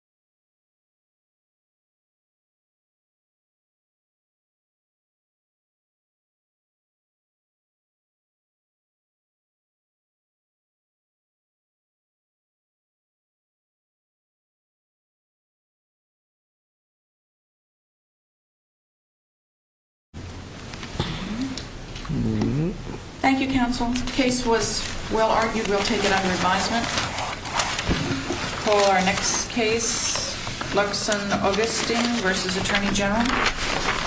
Attorney General's Office Thank you, counsel. The case was well argued. We'll take it under advisement. We'll call our next case, Luxon Augustine v. Attorney General. Luxon Augustine v. Attorney General Good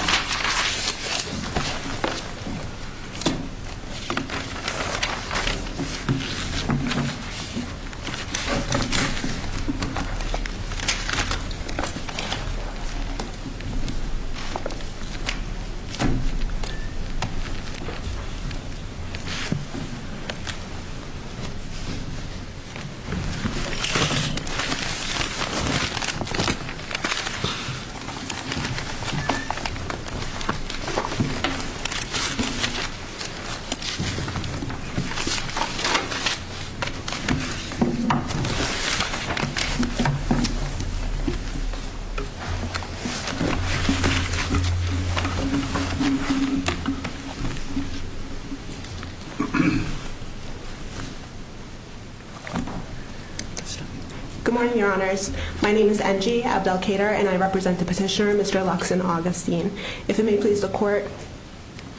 morning, your honors. My name is NG Abdelkader and I represent the petitioner, Mr. Luxon Augustine. If it may please the court,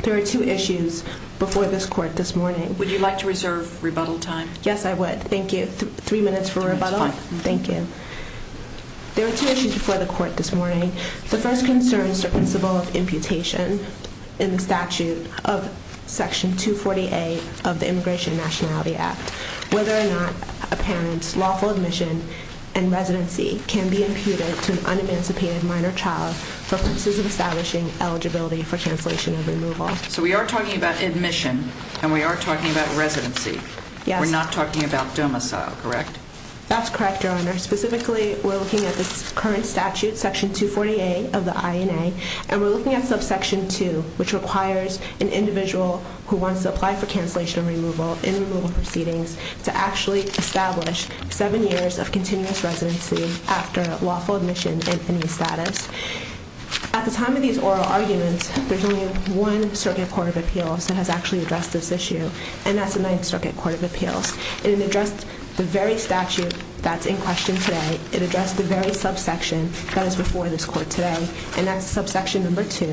there are two issues before this court this morning. Would you like to reserve rebuttal time? Yes, I would. Thank you. Three minutes for rebuttal? Thank you. There are two issues before the court this morning. The first concern is the principle of imputation in the statute of Section 240A of the Immigration and Nationality Act. Whether or not a parent's lawful admission and residency can be imputed to an un-emancipated minor child for purposes of establishing eligibility for cancellation of removal. So we are talking about admission and we are talking about residency. Yes. We're not talking about domicile, correct? That's correct, your honor. Specifically, we're looking at the current statute, Section 240A of the INA. And we're looking at subsection 2, which requires an individual who wants to apply for cancellation of removal in removal proceedings to actually establish seven years of continuous residency after lawful admission in any status. At the time of these oral arguments, there's only one circuit court of appeals that has actually addressed this issue. And that's the Ninth Circuit Court of Appeals. And it addressed the very statute that's in question today. It addressed the very subsection that is before this court today. And that's subsection number 2,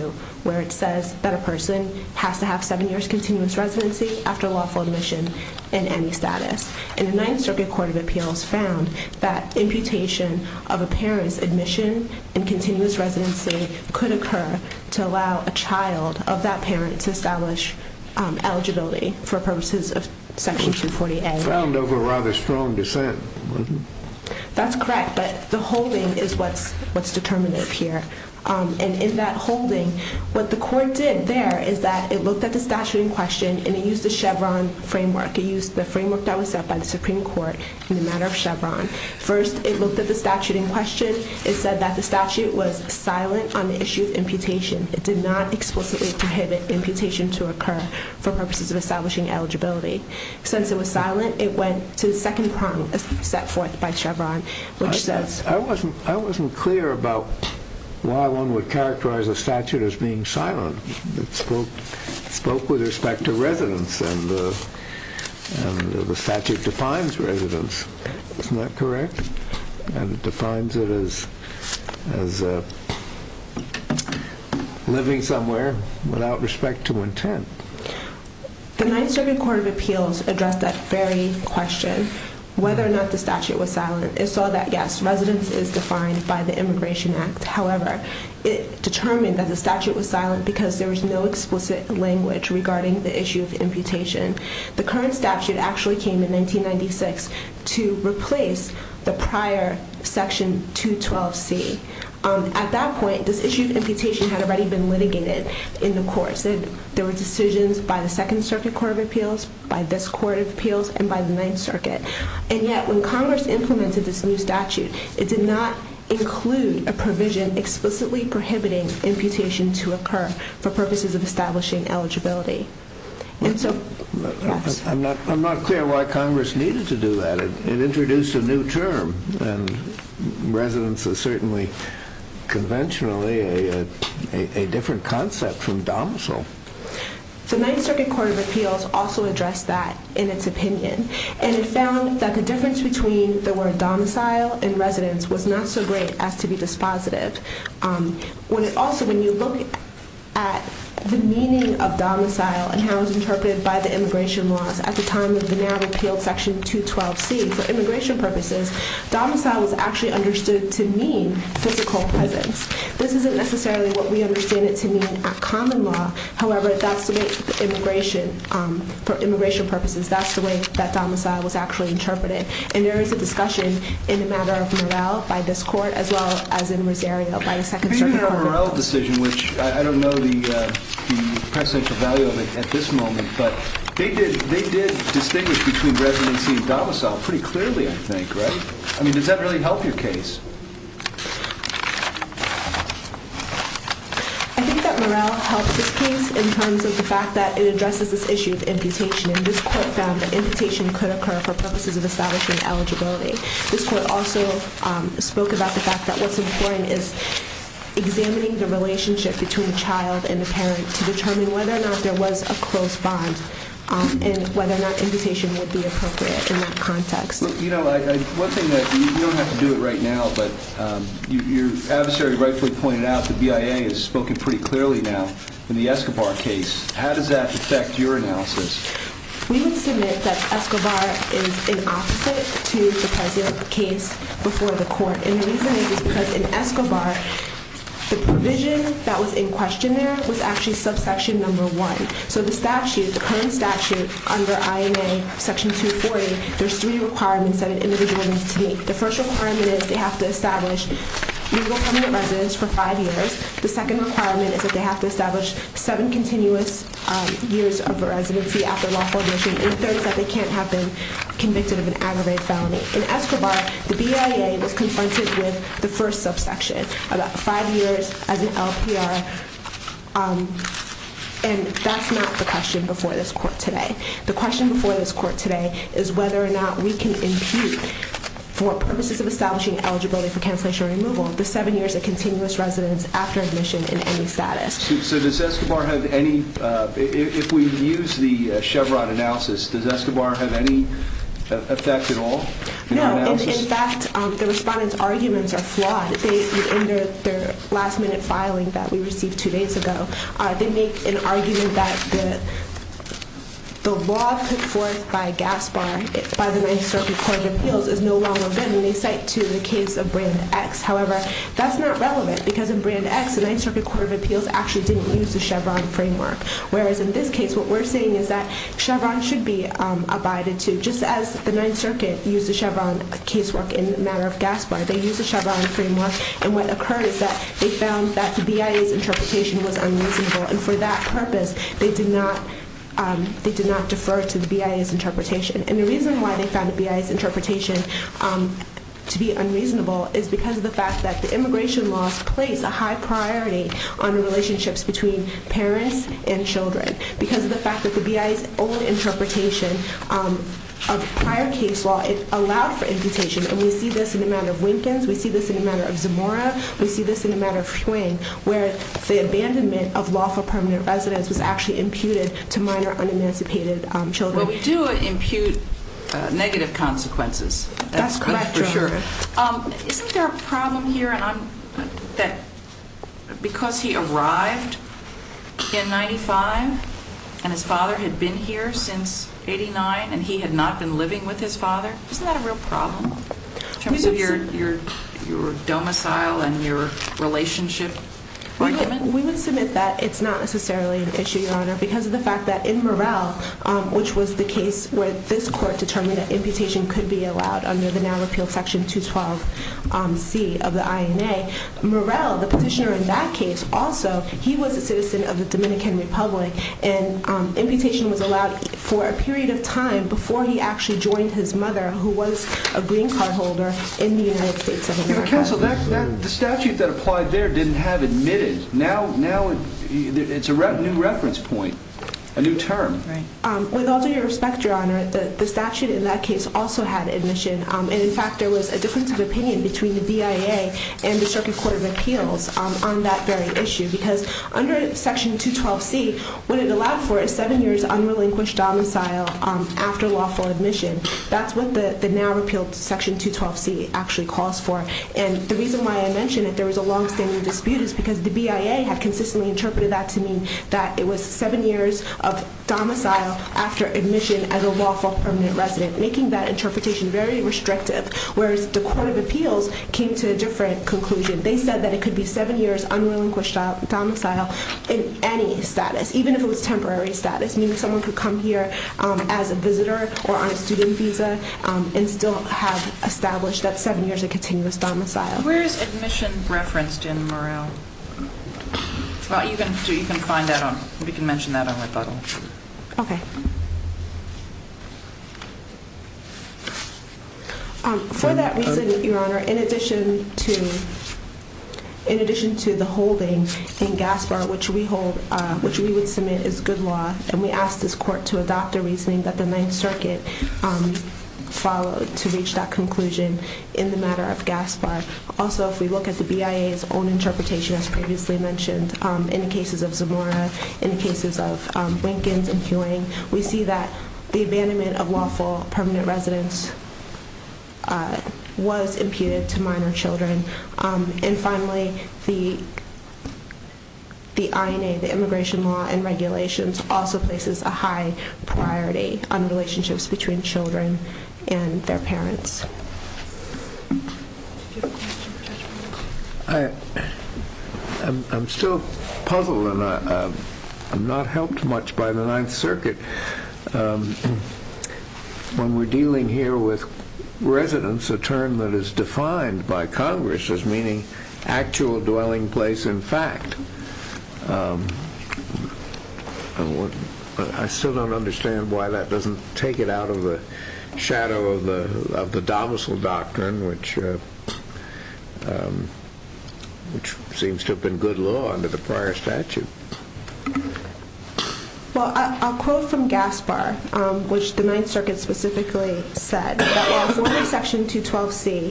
where it says that a person has to have seven years continuous residency after lawful admission in any status. And the Ninth Circuit Court of Appeals found that imputation of a parent's admission in continuous residency could occur to allow a child of that parent to establish eligibility for purposes of Section 240A. Found over rather strong dissent. That's correct, but the holding is what's determinative here. And in that holding, what the court did there is that it looked at the statute in question, and it used the Chevron framework. It used the framework that was set by the Supreme Court in the matter of Chevron. First, it looked at the statute in question. It said that the statute was silent on the issue of imputation. It did not explicitly prohibit imputation to occur for purposes of establishing eligibility. Since it was silent, it went to the second prong set forth by Chevron, which says I wasn't clear about why one would characterize a statute as being silent. It spoke with respect to residence, and the statute defines residence. Isn't that correct? And it defines it as living somewhere without respect to intent. The Ninth Circuit Court of Appeals addressed that very question, whether or not the statute was silent. It saw that, yes, residence is defined by the Immigration Act. However, it determined that the statute was silent because there was no explicit language regarding the issue of imputation. The current statute actually came in 1996 to replace the prior Section 212C. At that point, this issue of imputation had already been litigated in the courts. It said there were decisions by the Second Circuit Court of Appeals, by this Court of Appeals, and by the Ninth Circuit. And yet, when Congress implemented this new statute, it did not include a provision explicitly prohibiting imputation to occur for purposes of establishing eligibility. I'm not clear why Congress needed to do that. It introduced a new term. And residence is certainly conventionally a different concept from domicile. The Ninth Circuit Court of Appeals also addressed that in its opinion. And it found that the difference between the word domicile and residence was not so great as to be dispositive. Also, when you look at the meaning of domicile and how it was interpreted by the immigration laws at the time of the now-repealed Section 212C, for immigration purposes, domicile was actually understood to mean physical presence. This isn't necessarily what we understand it to mean at common law. However, for immigration purposes, that's the way that domicile was actually interpreted. And there is a discussion in the matter of morale by this Court, as well as in Rosario by the Second Circuit Court of Appeals. The morale decision, which I don't know the precedential value of it at this moment, but they did distinguish between residency and domicile pretty clearly, I think, right? I mean, does that really help your case? I think that morale helped this case in terms of the fact that it addresses this issue of imputation. And this Court found that imputation could occur for purposes of establishing eligibility. This Court also spoke about the fact that what's important is examining the relationship between the child and the parent to determine whether or not there was a close bond and whether or not imputation would be appropriate in that context. Well, you know, one thing that you don't have to do it right now, but your adversary rightfully pointed out, the BIA has spoken pretty clearly now in the Escobar case. How does that affect your analysis? We would submit that Escobar is an opposite to the present case before the Court. And the reason is because in Escobar, the provision that was in question there was actually subsection number one. So the statute, the current statute under INA section 240, there's three requirements that an individual needs to meet. The first requirement is they have to establish legal permanent residence for five years. The second requirement is that they have to establish seven continuous years of residency after lawful admission. And the third is that they can't have been convicted of an aggravated felony. In Escobar, the BIA was confronted with the first subsection, about five years as an LPR. And that's not the question before this Court today. The question before this Court today is whether or not we can impute for purposes of establishing eligibility for cancellation or removal the seven years of continuous residence after admission in any status. So does Escobar have any – if we use the Chevron analysis, does Escobar have any effect at all? No. In fact, the respondents' arguments are flawed. In their last-minute filing that we received two days ago, they make an argument that the law put forth by Gaspar, by the Ninth Circuit Court of Appeals, is no longer valid when they cite to the case of Brand X. However, that's not relevant because in Brand X, the Ninth Circuit Court of Appeals actually didn't use the Chevron framework. Whereas in this case, what we're saying is that Chevron should be abided to. Just as the Ninth Circuit used the Chevron casework in the matter of Gaspar, they used the Chevron framework. And what occurred is that they found that the BIA's interpretation was unreasonable. And for that purpose, they did not defer to the BIA's interpretation. And the reason why they found the BIA's interpretation to be unreasonable is because of the fact that the immigration laws place a high priority on the relationships between parents and children. Because of the fact that the BIA's old interpretation of prior case law, it allowed for imputation. And we see this in the matter of Winkins. We see this in the matter of Zamora. We see this in the matter of Hwang, where the abandonment of lawful permanent residence was actually imputed to minor un-emancipated children. Well, we do impute negative consequences. That's for sure. Isn't there a problem here that because he arrived in 95 and his father had been here since 89 and he had not been living with his father? Isn't that a real problem in terms of your domicile and your relationship argument? We would submit that it's not necessarily an issue, Your Honor, because of the fact that in Murrell, which was the case where this court determined that imputation could be allowed under the now repealed Section 212C of the INA, Murrell, the petitioner in that case also, he was a citizen of the Dominican Republic. And imputation was allowed for a period of time before he actually joined his mother, who was a green card holder in the United States of America. Counsel, the statute that applied there didn't have admitted. Now it's a new reference point, a new term. With all due respect, Your Honor, the statute in that case also had admission. And in fact, there was a difference of opinion between the BIA and the Circuit Court of Appeals on that very issue. Because under Section 212C, what it allowed for is seven years unrelinquished domicile after lawful admission. That's what the now repealed Section 212C actually calls for. And the reason why I mention that there was a longstanding dispute is because the BIA had consistently interpreted that to mean that it was seven years of domicile after admission as a lawful permanent resident, making that interpretation very restrictive. Whereas the Court of Appeals came to a different conclusion. They said that it could be seven years unrelinquished domicile in any status, even if it was temporary status. Meaning someone could come here as a visitor or on a student visa and still have established that seven years of continuous domicile. Where is admission referenced in Morrell? You can find that on, we can mention that on rebuttal. OK. For that reason, Your Honor, in addition to the holding in Gaspar, which we hold, which we would submit as good law, and we ask this court to adopt the reasoning that the Ninth Circuit followed to reach that conclusion in the matter of Gaspar. Also, if we look at the BIA's own interpretation, as previously mentioned, in the cases of Zamora, in the cases of Winkins and Fueng, we see that the abandonment of lawful permanent residents was imputed to minor children. And finally, the INA, the Immigration Law and Regulations, also places a high priority on relationships between children and their parents. I'm still puzzled and I'm not helped much by the Ninth Circuit. When we're dealing here with residence, a term that is defined by Congress as meaning actual dwelling place in fact. I still don't understand why that doesn't take it out of the shadow of the domicile doctrine, which seems to have been good law under the prior statute. Well, I'll quote from Gaspar, which the Ninth Circuit specifically said, that while former Section 212C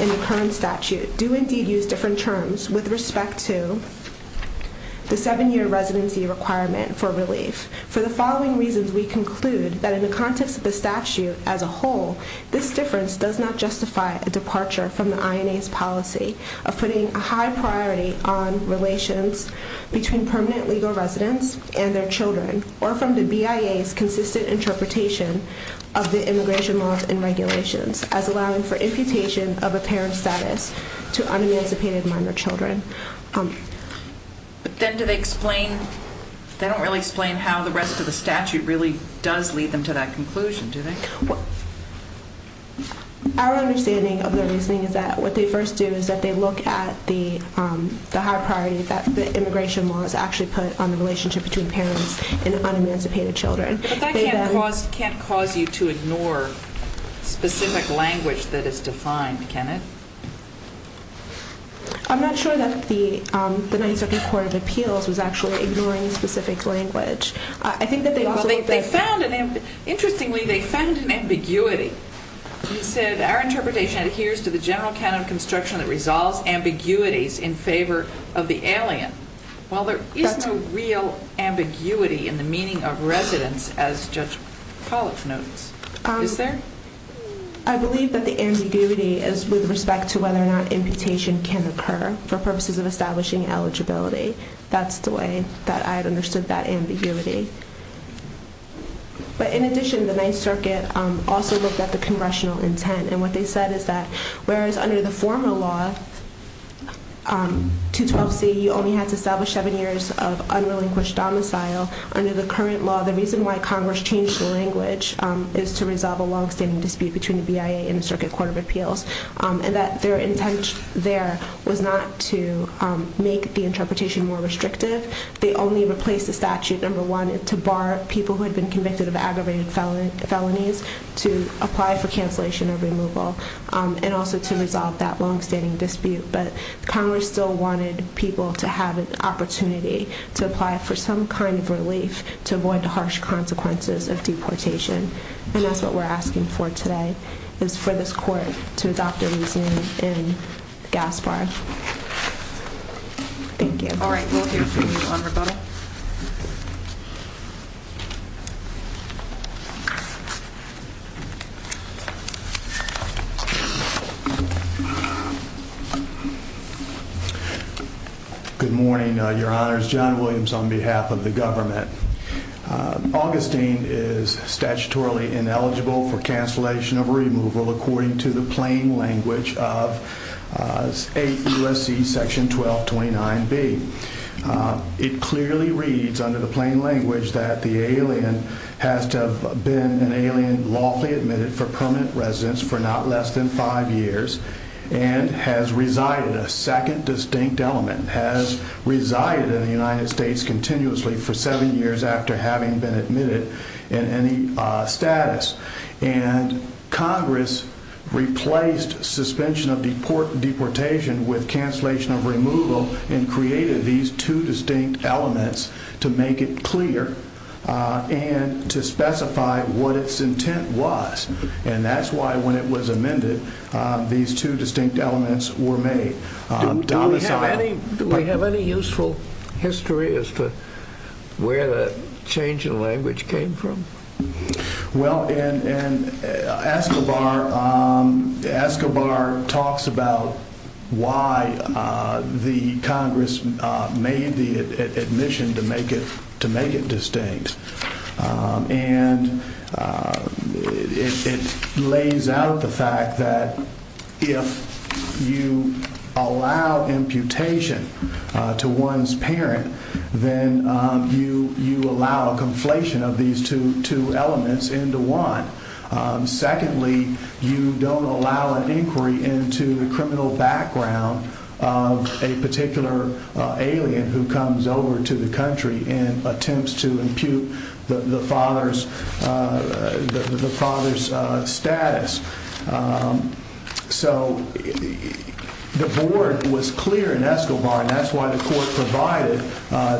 in the current statute do indeed use different terms with respect to the seven-year residency requirement for relief, for the following reasons we conclude that in the context of the statute as a whole, this difference does not justify a departure from the INA's policy of putting a high priority on relations between permanent legal residents and their children, or from the BIA's consistent interpretation of the Immigration Laws and Regulations, as allowing for imputation of a parent's status to unemancipated minor children. But then do they explain, they don't really explain how the rest of the statute really does lead them to that conclusion, do they? Our understanding of the reasoning is that what they first do is that they look at the high priority that the Immigration Laws actually put on the relationship between parents and unemancipated children. But that can't cause you to ignore specific language that is defined, can it? I'm not sure that the Ninth Circuit Court of Appeals was actually ignoring specific language. Interestingly, they found an ambiguity. They said, our interpretation adheres to the general canon of construction that resolves ambiguities in favor of the alien. While there is no real ambiguity in the meaning of residence, as Judge Pollack notes. Is there? I believe that the ambiguity is with respect to whether or not imputation can occur for purposes of establishing eligibility. That's the way that I understood that ambiguity. But in addition, the Ninth Circuit also looked at the congressional intent. And what they said is that, whereas under the former law, 212C, you only had to establish seven years of unrelinquished domicile. Under the current law, the reason why Congress changed the language is to resolve a longstanding dispute between the BIA and the Circuit Court of Appeals. And that their intent there was not to make the interpretation more restrictive. They only replaced the statute, number one, to bar people who had been convicted of aggravated felonies to apply for cancellation or removal. And also to resolve that longstanding dispute. But Congress still wanted people to have an opportunity to apply for some kind of relief to avoid the harsh consequences of deportation. And that's what we're asking for today, is for this court to adopt a reason in Gaspar. Thank you. All right, we'll hear from you on rebuttal. Good morning, Your Honors. John Williams on behalf of the government. Augustine is statutorily ineligible for cancellation of removal according to the plain language of 8 U.S.C. section 1229B. It clearly reads under the plain language that the alien has to have been an alien lawfully admitted for permanent residence for not less than five years. And has resided, a second distinct element, has resided in the United States continuously for seven years after having been admitted in any status. And Congress replaced suspension of deportation with cancellation of removal and created these two distinct elements to make it clear and to specify what its intent was. And that's why when it was amended, these two distinct elements were made. Do we have any useful history as to where the change in language came from? Well, in Escobar, Escobar talks about why the Congress made the admission to make it distinct. And it lays out the fact that if you allow imputation to one's parent, then you allow a conflation of these two elements into one. Secondly, you don't allow an inquiry into the criminal background of a particular alien who comes over to the country and attempts to impute the father's status. So the board was clear in Escobar, and that's why the court provided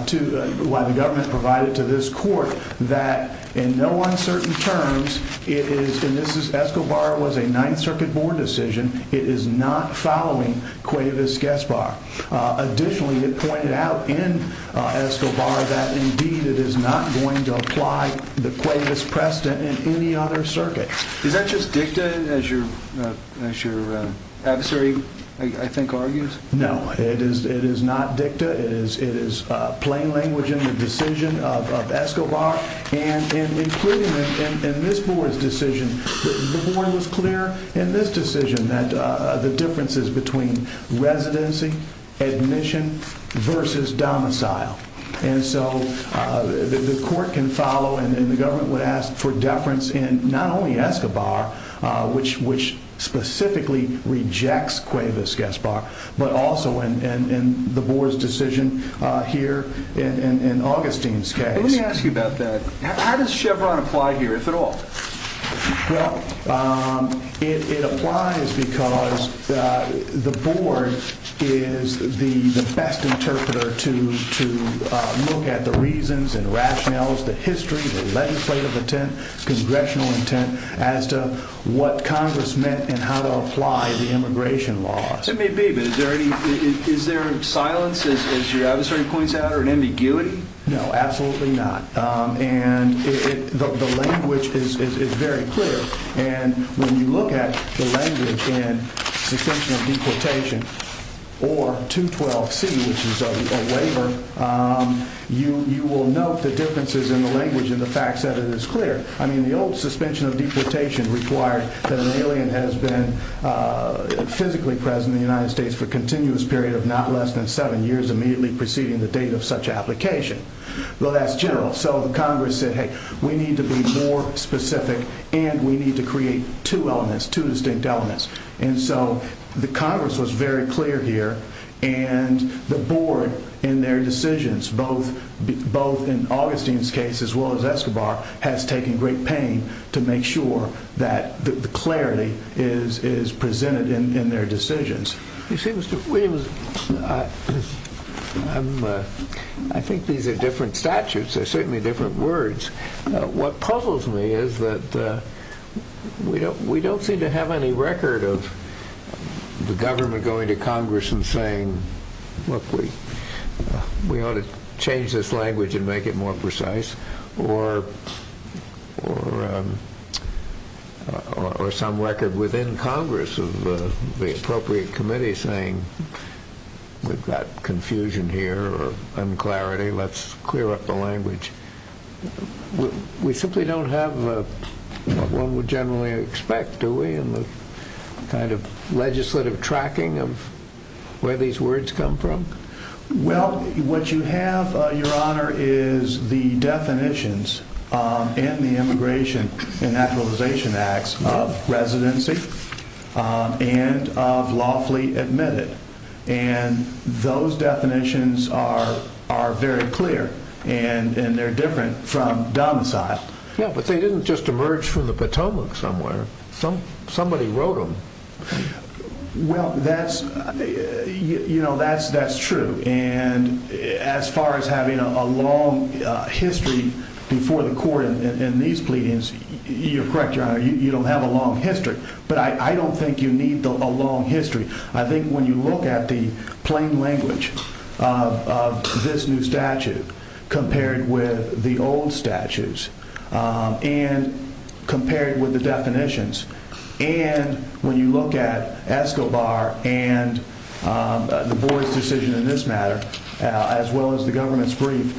to, why the government provided to this court that in no uncertain terms, it is, and this is, Escobar was a Ninth Circuit board decision. It is not following Cuevas-Gaspar. Additionally, it pointed out in Escobar that indeed it is not going to apply the Cuevas precedent in any other circuit. Is that just dicta as your adversary, I think, argues? No, it is not dicta. It is plain language in the decision of Escobar. And including in this board's decision, the board was clear in this decision that the differences between residency, admission versus domicile. And so the court can follow, and then the government would ask for deference in not only Escobar, which specifically rejects Cuevas-Gaspar, but also in the board's decision here in Augustine's case. Let me ask you about that. How does Chevron apply here, if at all? Well, it applies because the board is the best interpreter to look at the reasons and rationales, the history, the legislative intent, congressional intent as to what Congress meant and how to apply the immigration laws. It may be, but is there silence, as your adversary points out, or an ambiguity? No, absolutely not. And the language is very clear. And when you look at the language in suspension of deportation or 212C, which is a waiver, you will note the differences in the language and the facts that it is clear. I mean, the old suspension of deportation required that an alien has been physically present in the United States for a continuous period of not less than seven years immediately preceding the date of such application. Well, that's general. So Congress said, hey, we need to be more specific, and we need to create two elements, two distinct elements. And so the Congress was very clear here, and the board in their decisions, both in Augustine's case as well as Escobar, has taken great pain to make sure that the clarity is presented in their decisions. You see, Mr. Williams, I think these are different statutes. They're certainly different words. What puzzles me is that we don't seem to have any record of the government going to Congress and saying, look, we ought to change this language and make it more precise, or some record within Congress of the appropriate committee saying, we've got confusion here or unclarity, let's clear up the language. We simply don't have what one would generally expect, do we, in the kind of legislative tracking of where these words come from? Well, what you have, Your Honor, is the definitions in the Immigration and Naturalization Acts of residency and of lawfully admitted. And those definitions are very clear, and they're different from domicile. Yeah, but they didn't just emerge from the Potomac somewhere. Somebody wrote them. Well, that's true. And as far as having a long history before the court in these pleadings, you're correct, Your Honor, you don't have a long history. But I don't think you need a long history. I think when you look at the plain language of this new statute compared with the old statutes and compared with the definitions, and when you look at Escobar and Du Bois' decision in this matter, as well as the government's brief,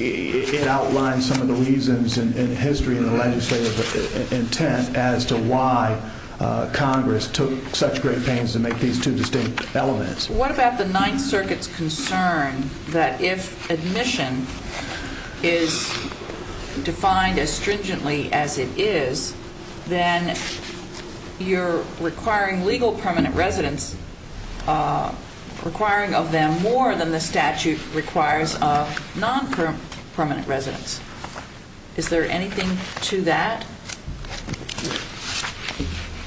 it outlines some of the reasons and history and the legislative intent as to why Congress took such great pains to make these two distinct elements. What about the Ninth Circuit's concern that if admission is defined as stringently as it is, then you're requiring legal permanent residence, requiring of them more than the statute requires of non-permanent residence? Is there anything to that?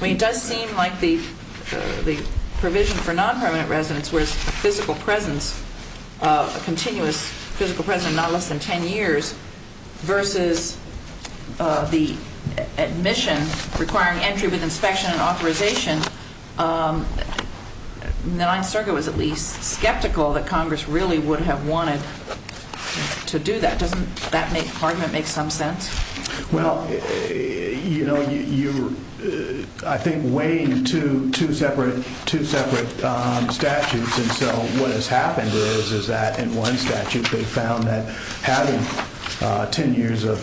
I mean, it does seem like the provision for non-permanent residence where it's a physical presence, a continuous physical presence, not less than 10 years, versus the admission requiring entry with inspection and authorization, the Ninth Circuit was at least skeptical that Congress really would have wanted to do that. Doesn't that argument make some sense? Well, you're, I think, weighing two separate statutes, and so what has happened is that in one statute they found that having 10 years of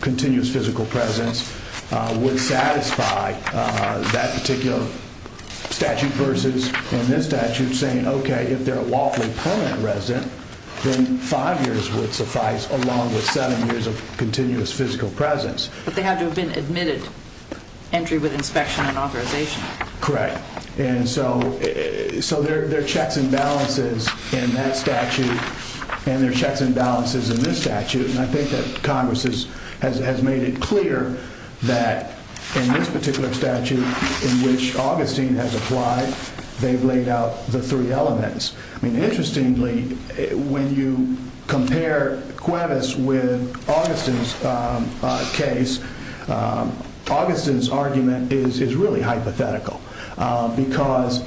continuous physical presence would satisfy that particular statute versus in this statute saying, okay, if they're a lawfully permanent resident, then five years would suffice along with seven years of continuous physical presence. But they had to have been admitted, entry with inspection and authorization. Correct, and so there are checks and balances in that statute and there are checks and balances in this statute, and I think that Congress has made it clear that in this particular statute in which Augustine has applied, they've laid out the three elements. I mean, interestingly, when you compare Cuevas with Augustine's case, Augustine's argument is really hypothetical because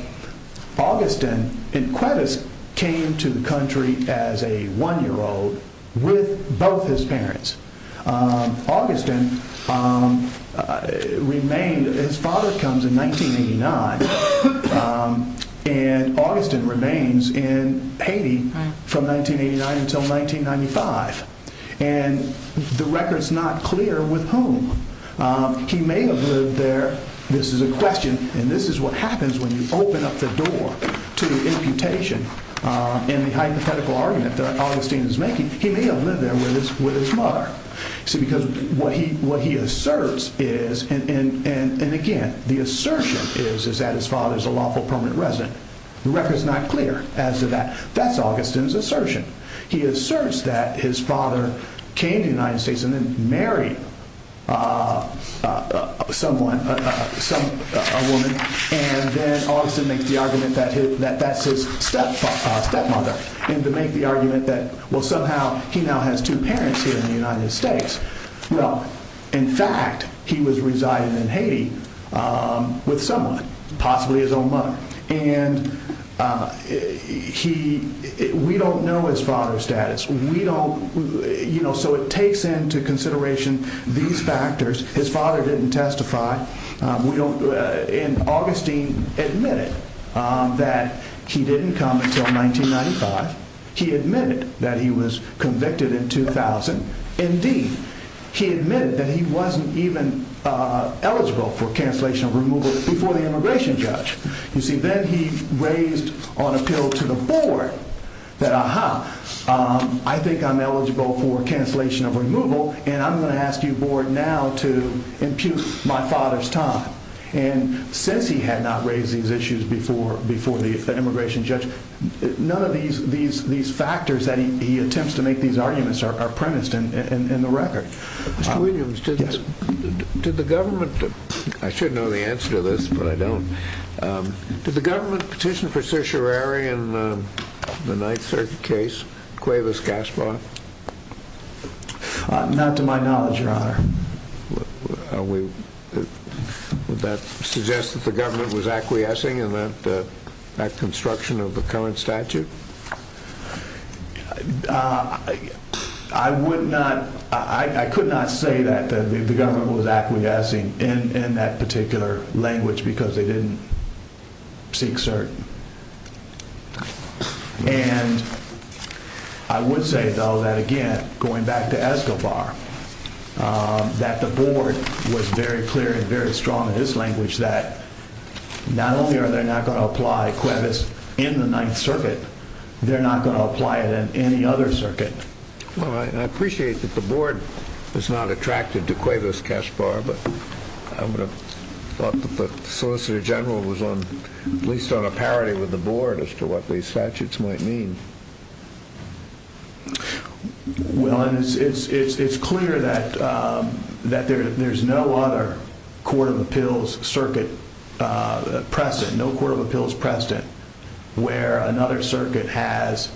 Augustine, and Cuevas came to the country as a one-year-old with both his parents. Augustine remained, his father comes in 1989, and Augustine remains in Haiti from 1989 until 1995, and the record's not clear with whom. He may have lived there, this is a question, and this is what happens when you open up the door to imputation and the hypothetical argument that Augustine is making. He may have lived there with his mother. See, because what he asserts is, and again, the assertion is that his father is a lawful permanent resident. The record's not clear as to that. That's Augustine's assertion. He asserts that his father came to the United States and then married someone, a woman, and then Augustine makes the argument that that's his stepfather, stepmother, and to make the argument that, well, somehow he now has two parents here in the United States. Well, in fact, he was residing in Haiti with someone, possibly his own mother, and we don't know his father's status. So it takes into consideration these factors. His father didn't testify, and Augustine admitted that he didn't come until 1995. He admitted that he was convicted in 2000. Indeed, he admitted that he wasn't even eligible for cancellation of removal before the immigration judge. You see, then he raised on appeal to the board that, I think I'm eligible for cancellation of removal, and I'm going to ask you board now to impute my father's time. And since he had not raised these issues before the immigration judge, none of these factors that he attempts to make these arguments are premised in the record. Mr. Williams, did the government—I should know the answer to this, but I don't. Did the government petition for certiorari in the Ninth Circuit case, Cuevas-Gaspar? Not to my knowledge, Your Honor. Would that suggest that the government was acquiescing in that construction of the current statute? I would not—I could not say that the government was acquiescing in that particular language because they didn't seek cert. And I would say, though, that again, going back to Escobar, that the board was very clear and very strong in its language that not only are they not going to apply Cuevas in the Ninth Circuit, they're not going to apply it in any other circuit. Well, I appreciate that the board is not attracted to Cuevas-Gaspar, but I would have thought that the Solicitor General was at least on a parity with the board as to what these statutes might mean. Well, it's clear that there's no other court of appeals circuit precedent, no court of appeals precedent, where another circuit has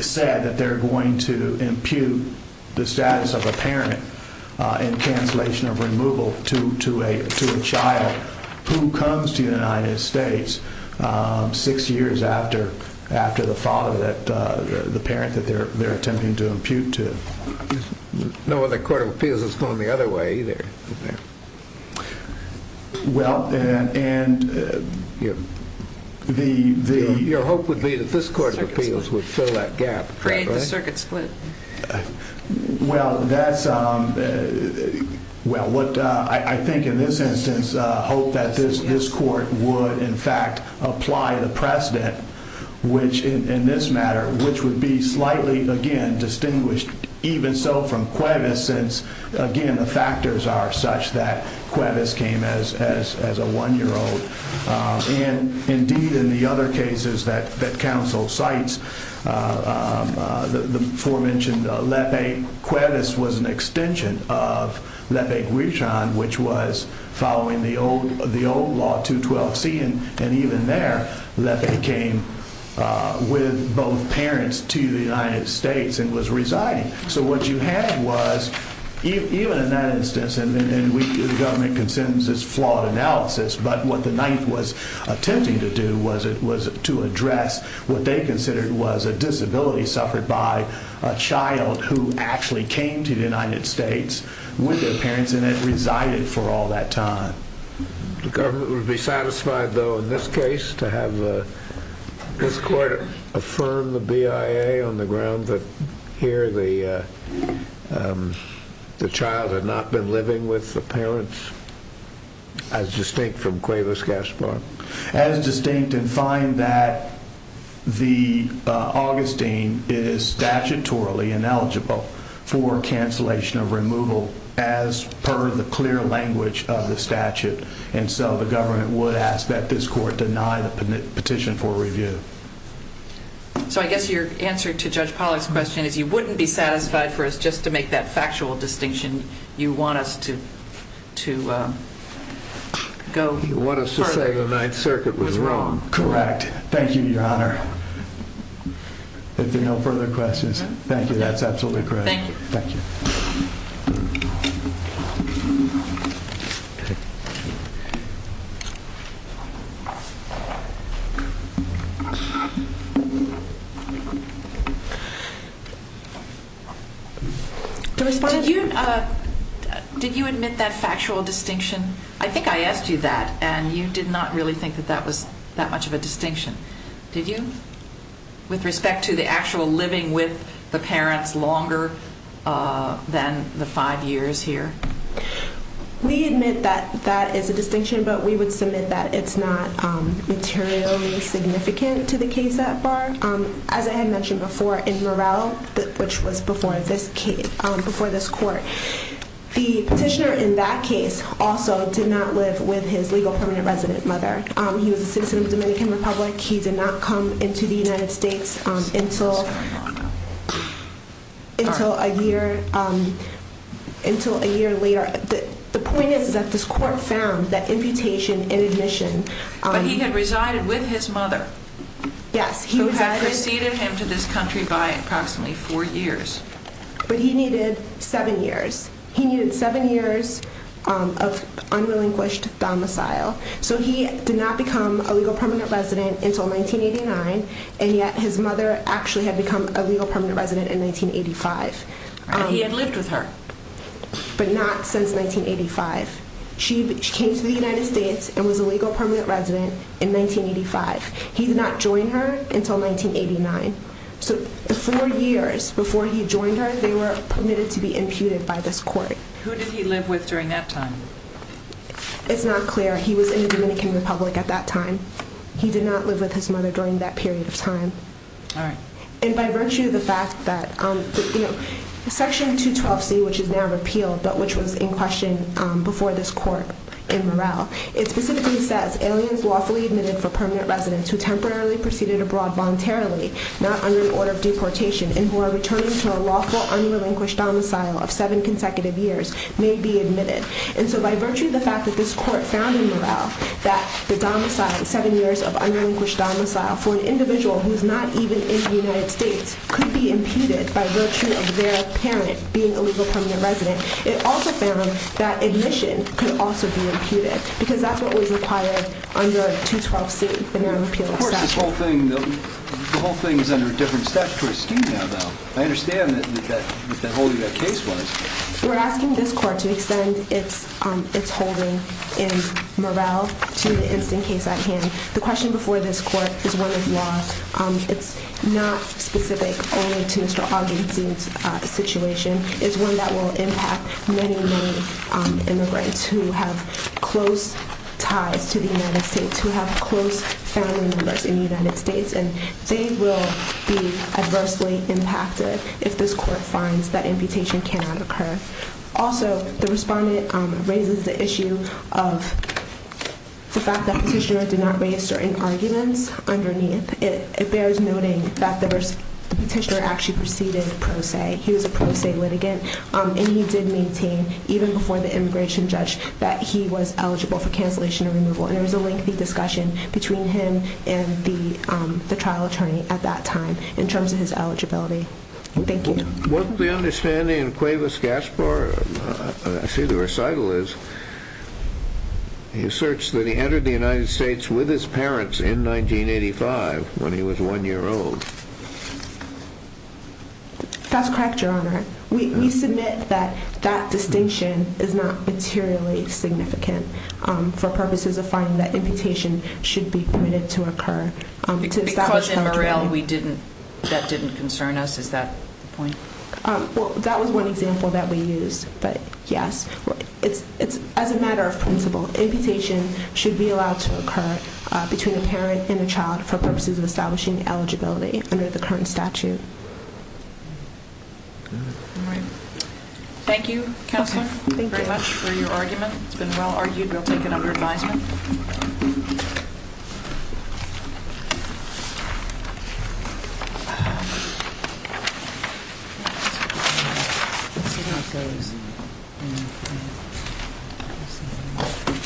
said that they're going to impute the status of a parent in cancellation of removal to a child who comes to the United States six years after the father, the parent that they're attempting to impute to. No other court of appeals has gone the other way either. Well, and the— My hope would be that this court of appeals would fill that gap. Create the circuit split. Well, that's—well, what I think in this instance, I hope that this court would in fact apply the precedent, which in this matter, which would be slightly, again, distinguished even so from Cuevas, since, again, the factors are such that Cuevas came as a one-year-old. And, indeed, in the other cases that counsel cites, the aforementioned Lepe, Cuevas was an extension of Lepe-Guijan, which was following the old law, 212C. And even there, Lepe came with both parents to the United States and was residing. So what you had was, even in that instance, and the government can sentence this flawed analysis, but what the Ninth was attempting to do was to address what they considered was a disability suffered by a child who actually came to the United States with their parents and had resided for all that time. The government would be satisfied, though, in this case, to have this court affirm the BIA on the ground that here the child had not been living with the parents, as distinct from Cuevas-Gaspar. As distinct and find that the Augustine is statutorily ineligible for cancellation of removal as per the clear language of the statute. And so the government would ask that this court deny the petition for review. So I guess your answer to Judge Pollack's question is you wouldn't be satisfied for us to have a factual distinction. You want us to go further. You want us to say the Ninth Circuit was wrong. Correct. Thank you, Your Honor. If there are no further questions. That's absolutely correct. Thank you. Thank you. Did you admit that factual distinction? I think I asked you that, and you did not really think that that was that much of a distinction. Did you? With respect to the actual living with the parents longer than the five years here? We admit that that is a distinction, but we would submit that it's not materially significant to the case at bar. As I had mentioned before, in Morrell, which was before this court, the petitioner in that case also did not live with his legal permanent resident mother. He was a citizen of the Dominican Republic. He did not come into the United States until a year later. The point is that this court found that imputation in admission. But he had resided with his mother. Yes. Who had preceded him to this country by approximately four years. But he needed seven years. He needed seven years of unrelinquished domicile. So he did not become a legal permanent resident until 1989, and yet his mother actually had become a legal permanent resident in 1985. And he had lived with her. But not since 1985. She came to the United States and was a legal permanent resident in 1985. He did not join her until 1989. So the four years before he joined her, they were permitted to be imputed by this court. Who did he live with during that time? It's not clear. He was in the Dominican Republic at that time. He did not live with his mother during that period of time. All right. And by virtue of the fact that Section 212C, which is now repealed, but which was in question before this court in Morrell, it specifically says aliens lawfully admitted for permanent residence who temporarily proceeded abroad voluntarily, not under the order of deportation, and who are returning to a lawful unrelinquished domicile of seven consecutive years may be admitted. And so by virtue of the fact that this court found in Morrell that the domicile, seven years of unrelinquished domicile for an individual who is not even in the United States, could be imputed by virtue of their parent being a legal permanent resident, it also found that admission could also be imputed because that's what was required under 212C. Of course, the whole thing is under a different statutory scheme now, though. I understand that holding that case was. We're asking this court to extend its holding in Morrell to the instant case at hand. The question before this court is one of law. It's not specific only to Mr. Oginski's situation. It's one that will impact many, many immigrants who have close ties to the United States, who have close family members in the United States, and they will be adversely impacted if this court finds that imputation cannot occur. Also, the respondent raises the issue of the fact that petitioner did not raise certain arguments underneath. It bears noting that the petitioner actually proceeded pro se. He was a pro se litigant, and he did maintain, even before the immigration judge, that he was eligible for cancellation or removal, and there was a lengthy discussion between him and the trial attorney at that time in terms of his eligibility. Thank you. What we understand in Cuevas-Gaspar, I see the recital is, he asserts that he entered the United States with his parents in 1985 when he was one year old. That's correct, Your Honor. We submit that that distinction is not materially significant for purposes of finding that imputation should be permitted to occur. Because in Morrell that didn't concern us, is that the point? That was one example that we used, but yes. As a matter of principle, imputation should be allowed to occur between a parent and a child for purposes of establishing eligibility under the current statute. Thank you, Counselor, very much for your argument. It's been well argued. We'll take it under advisement. Thank you, Your Honor.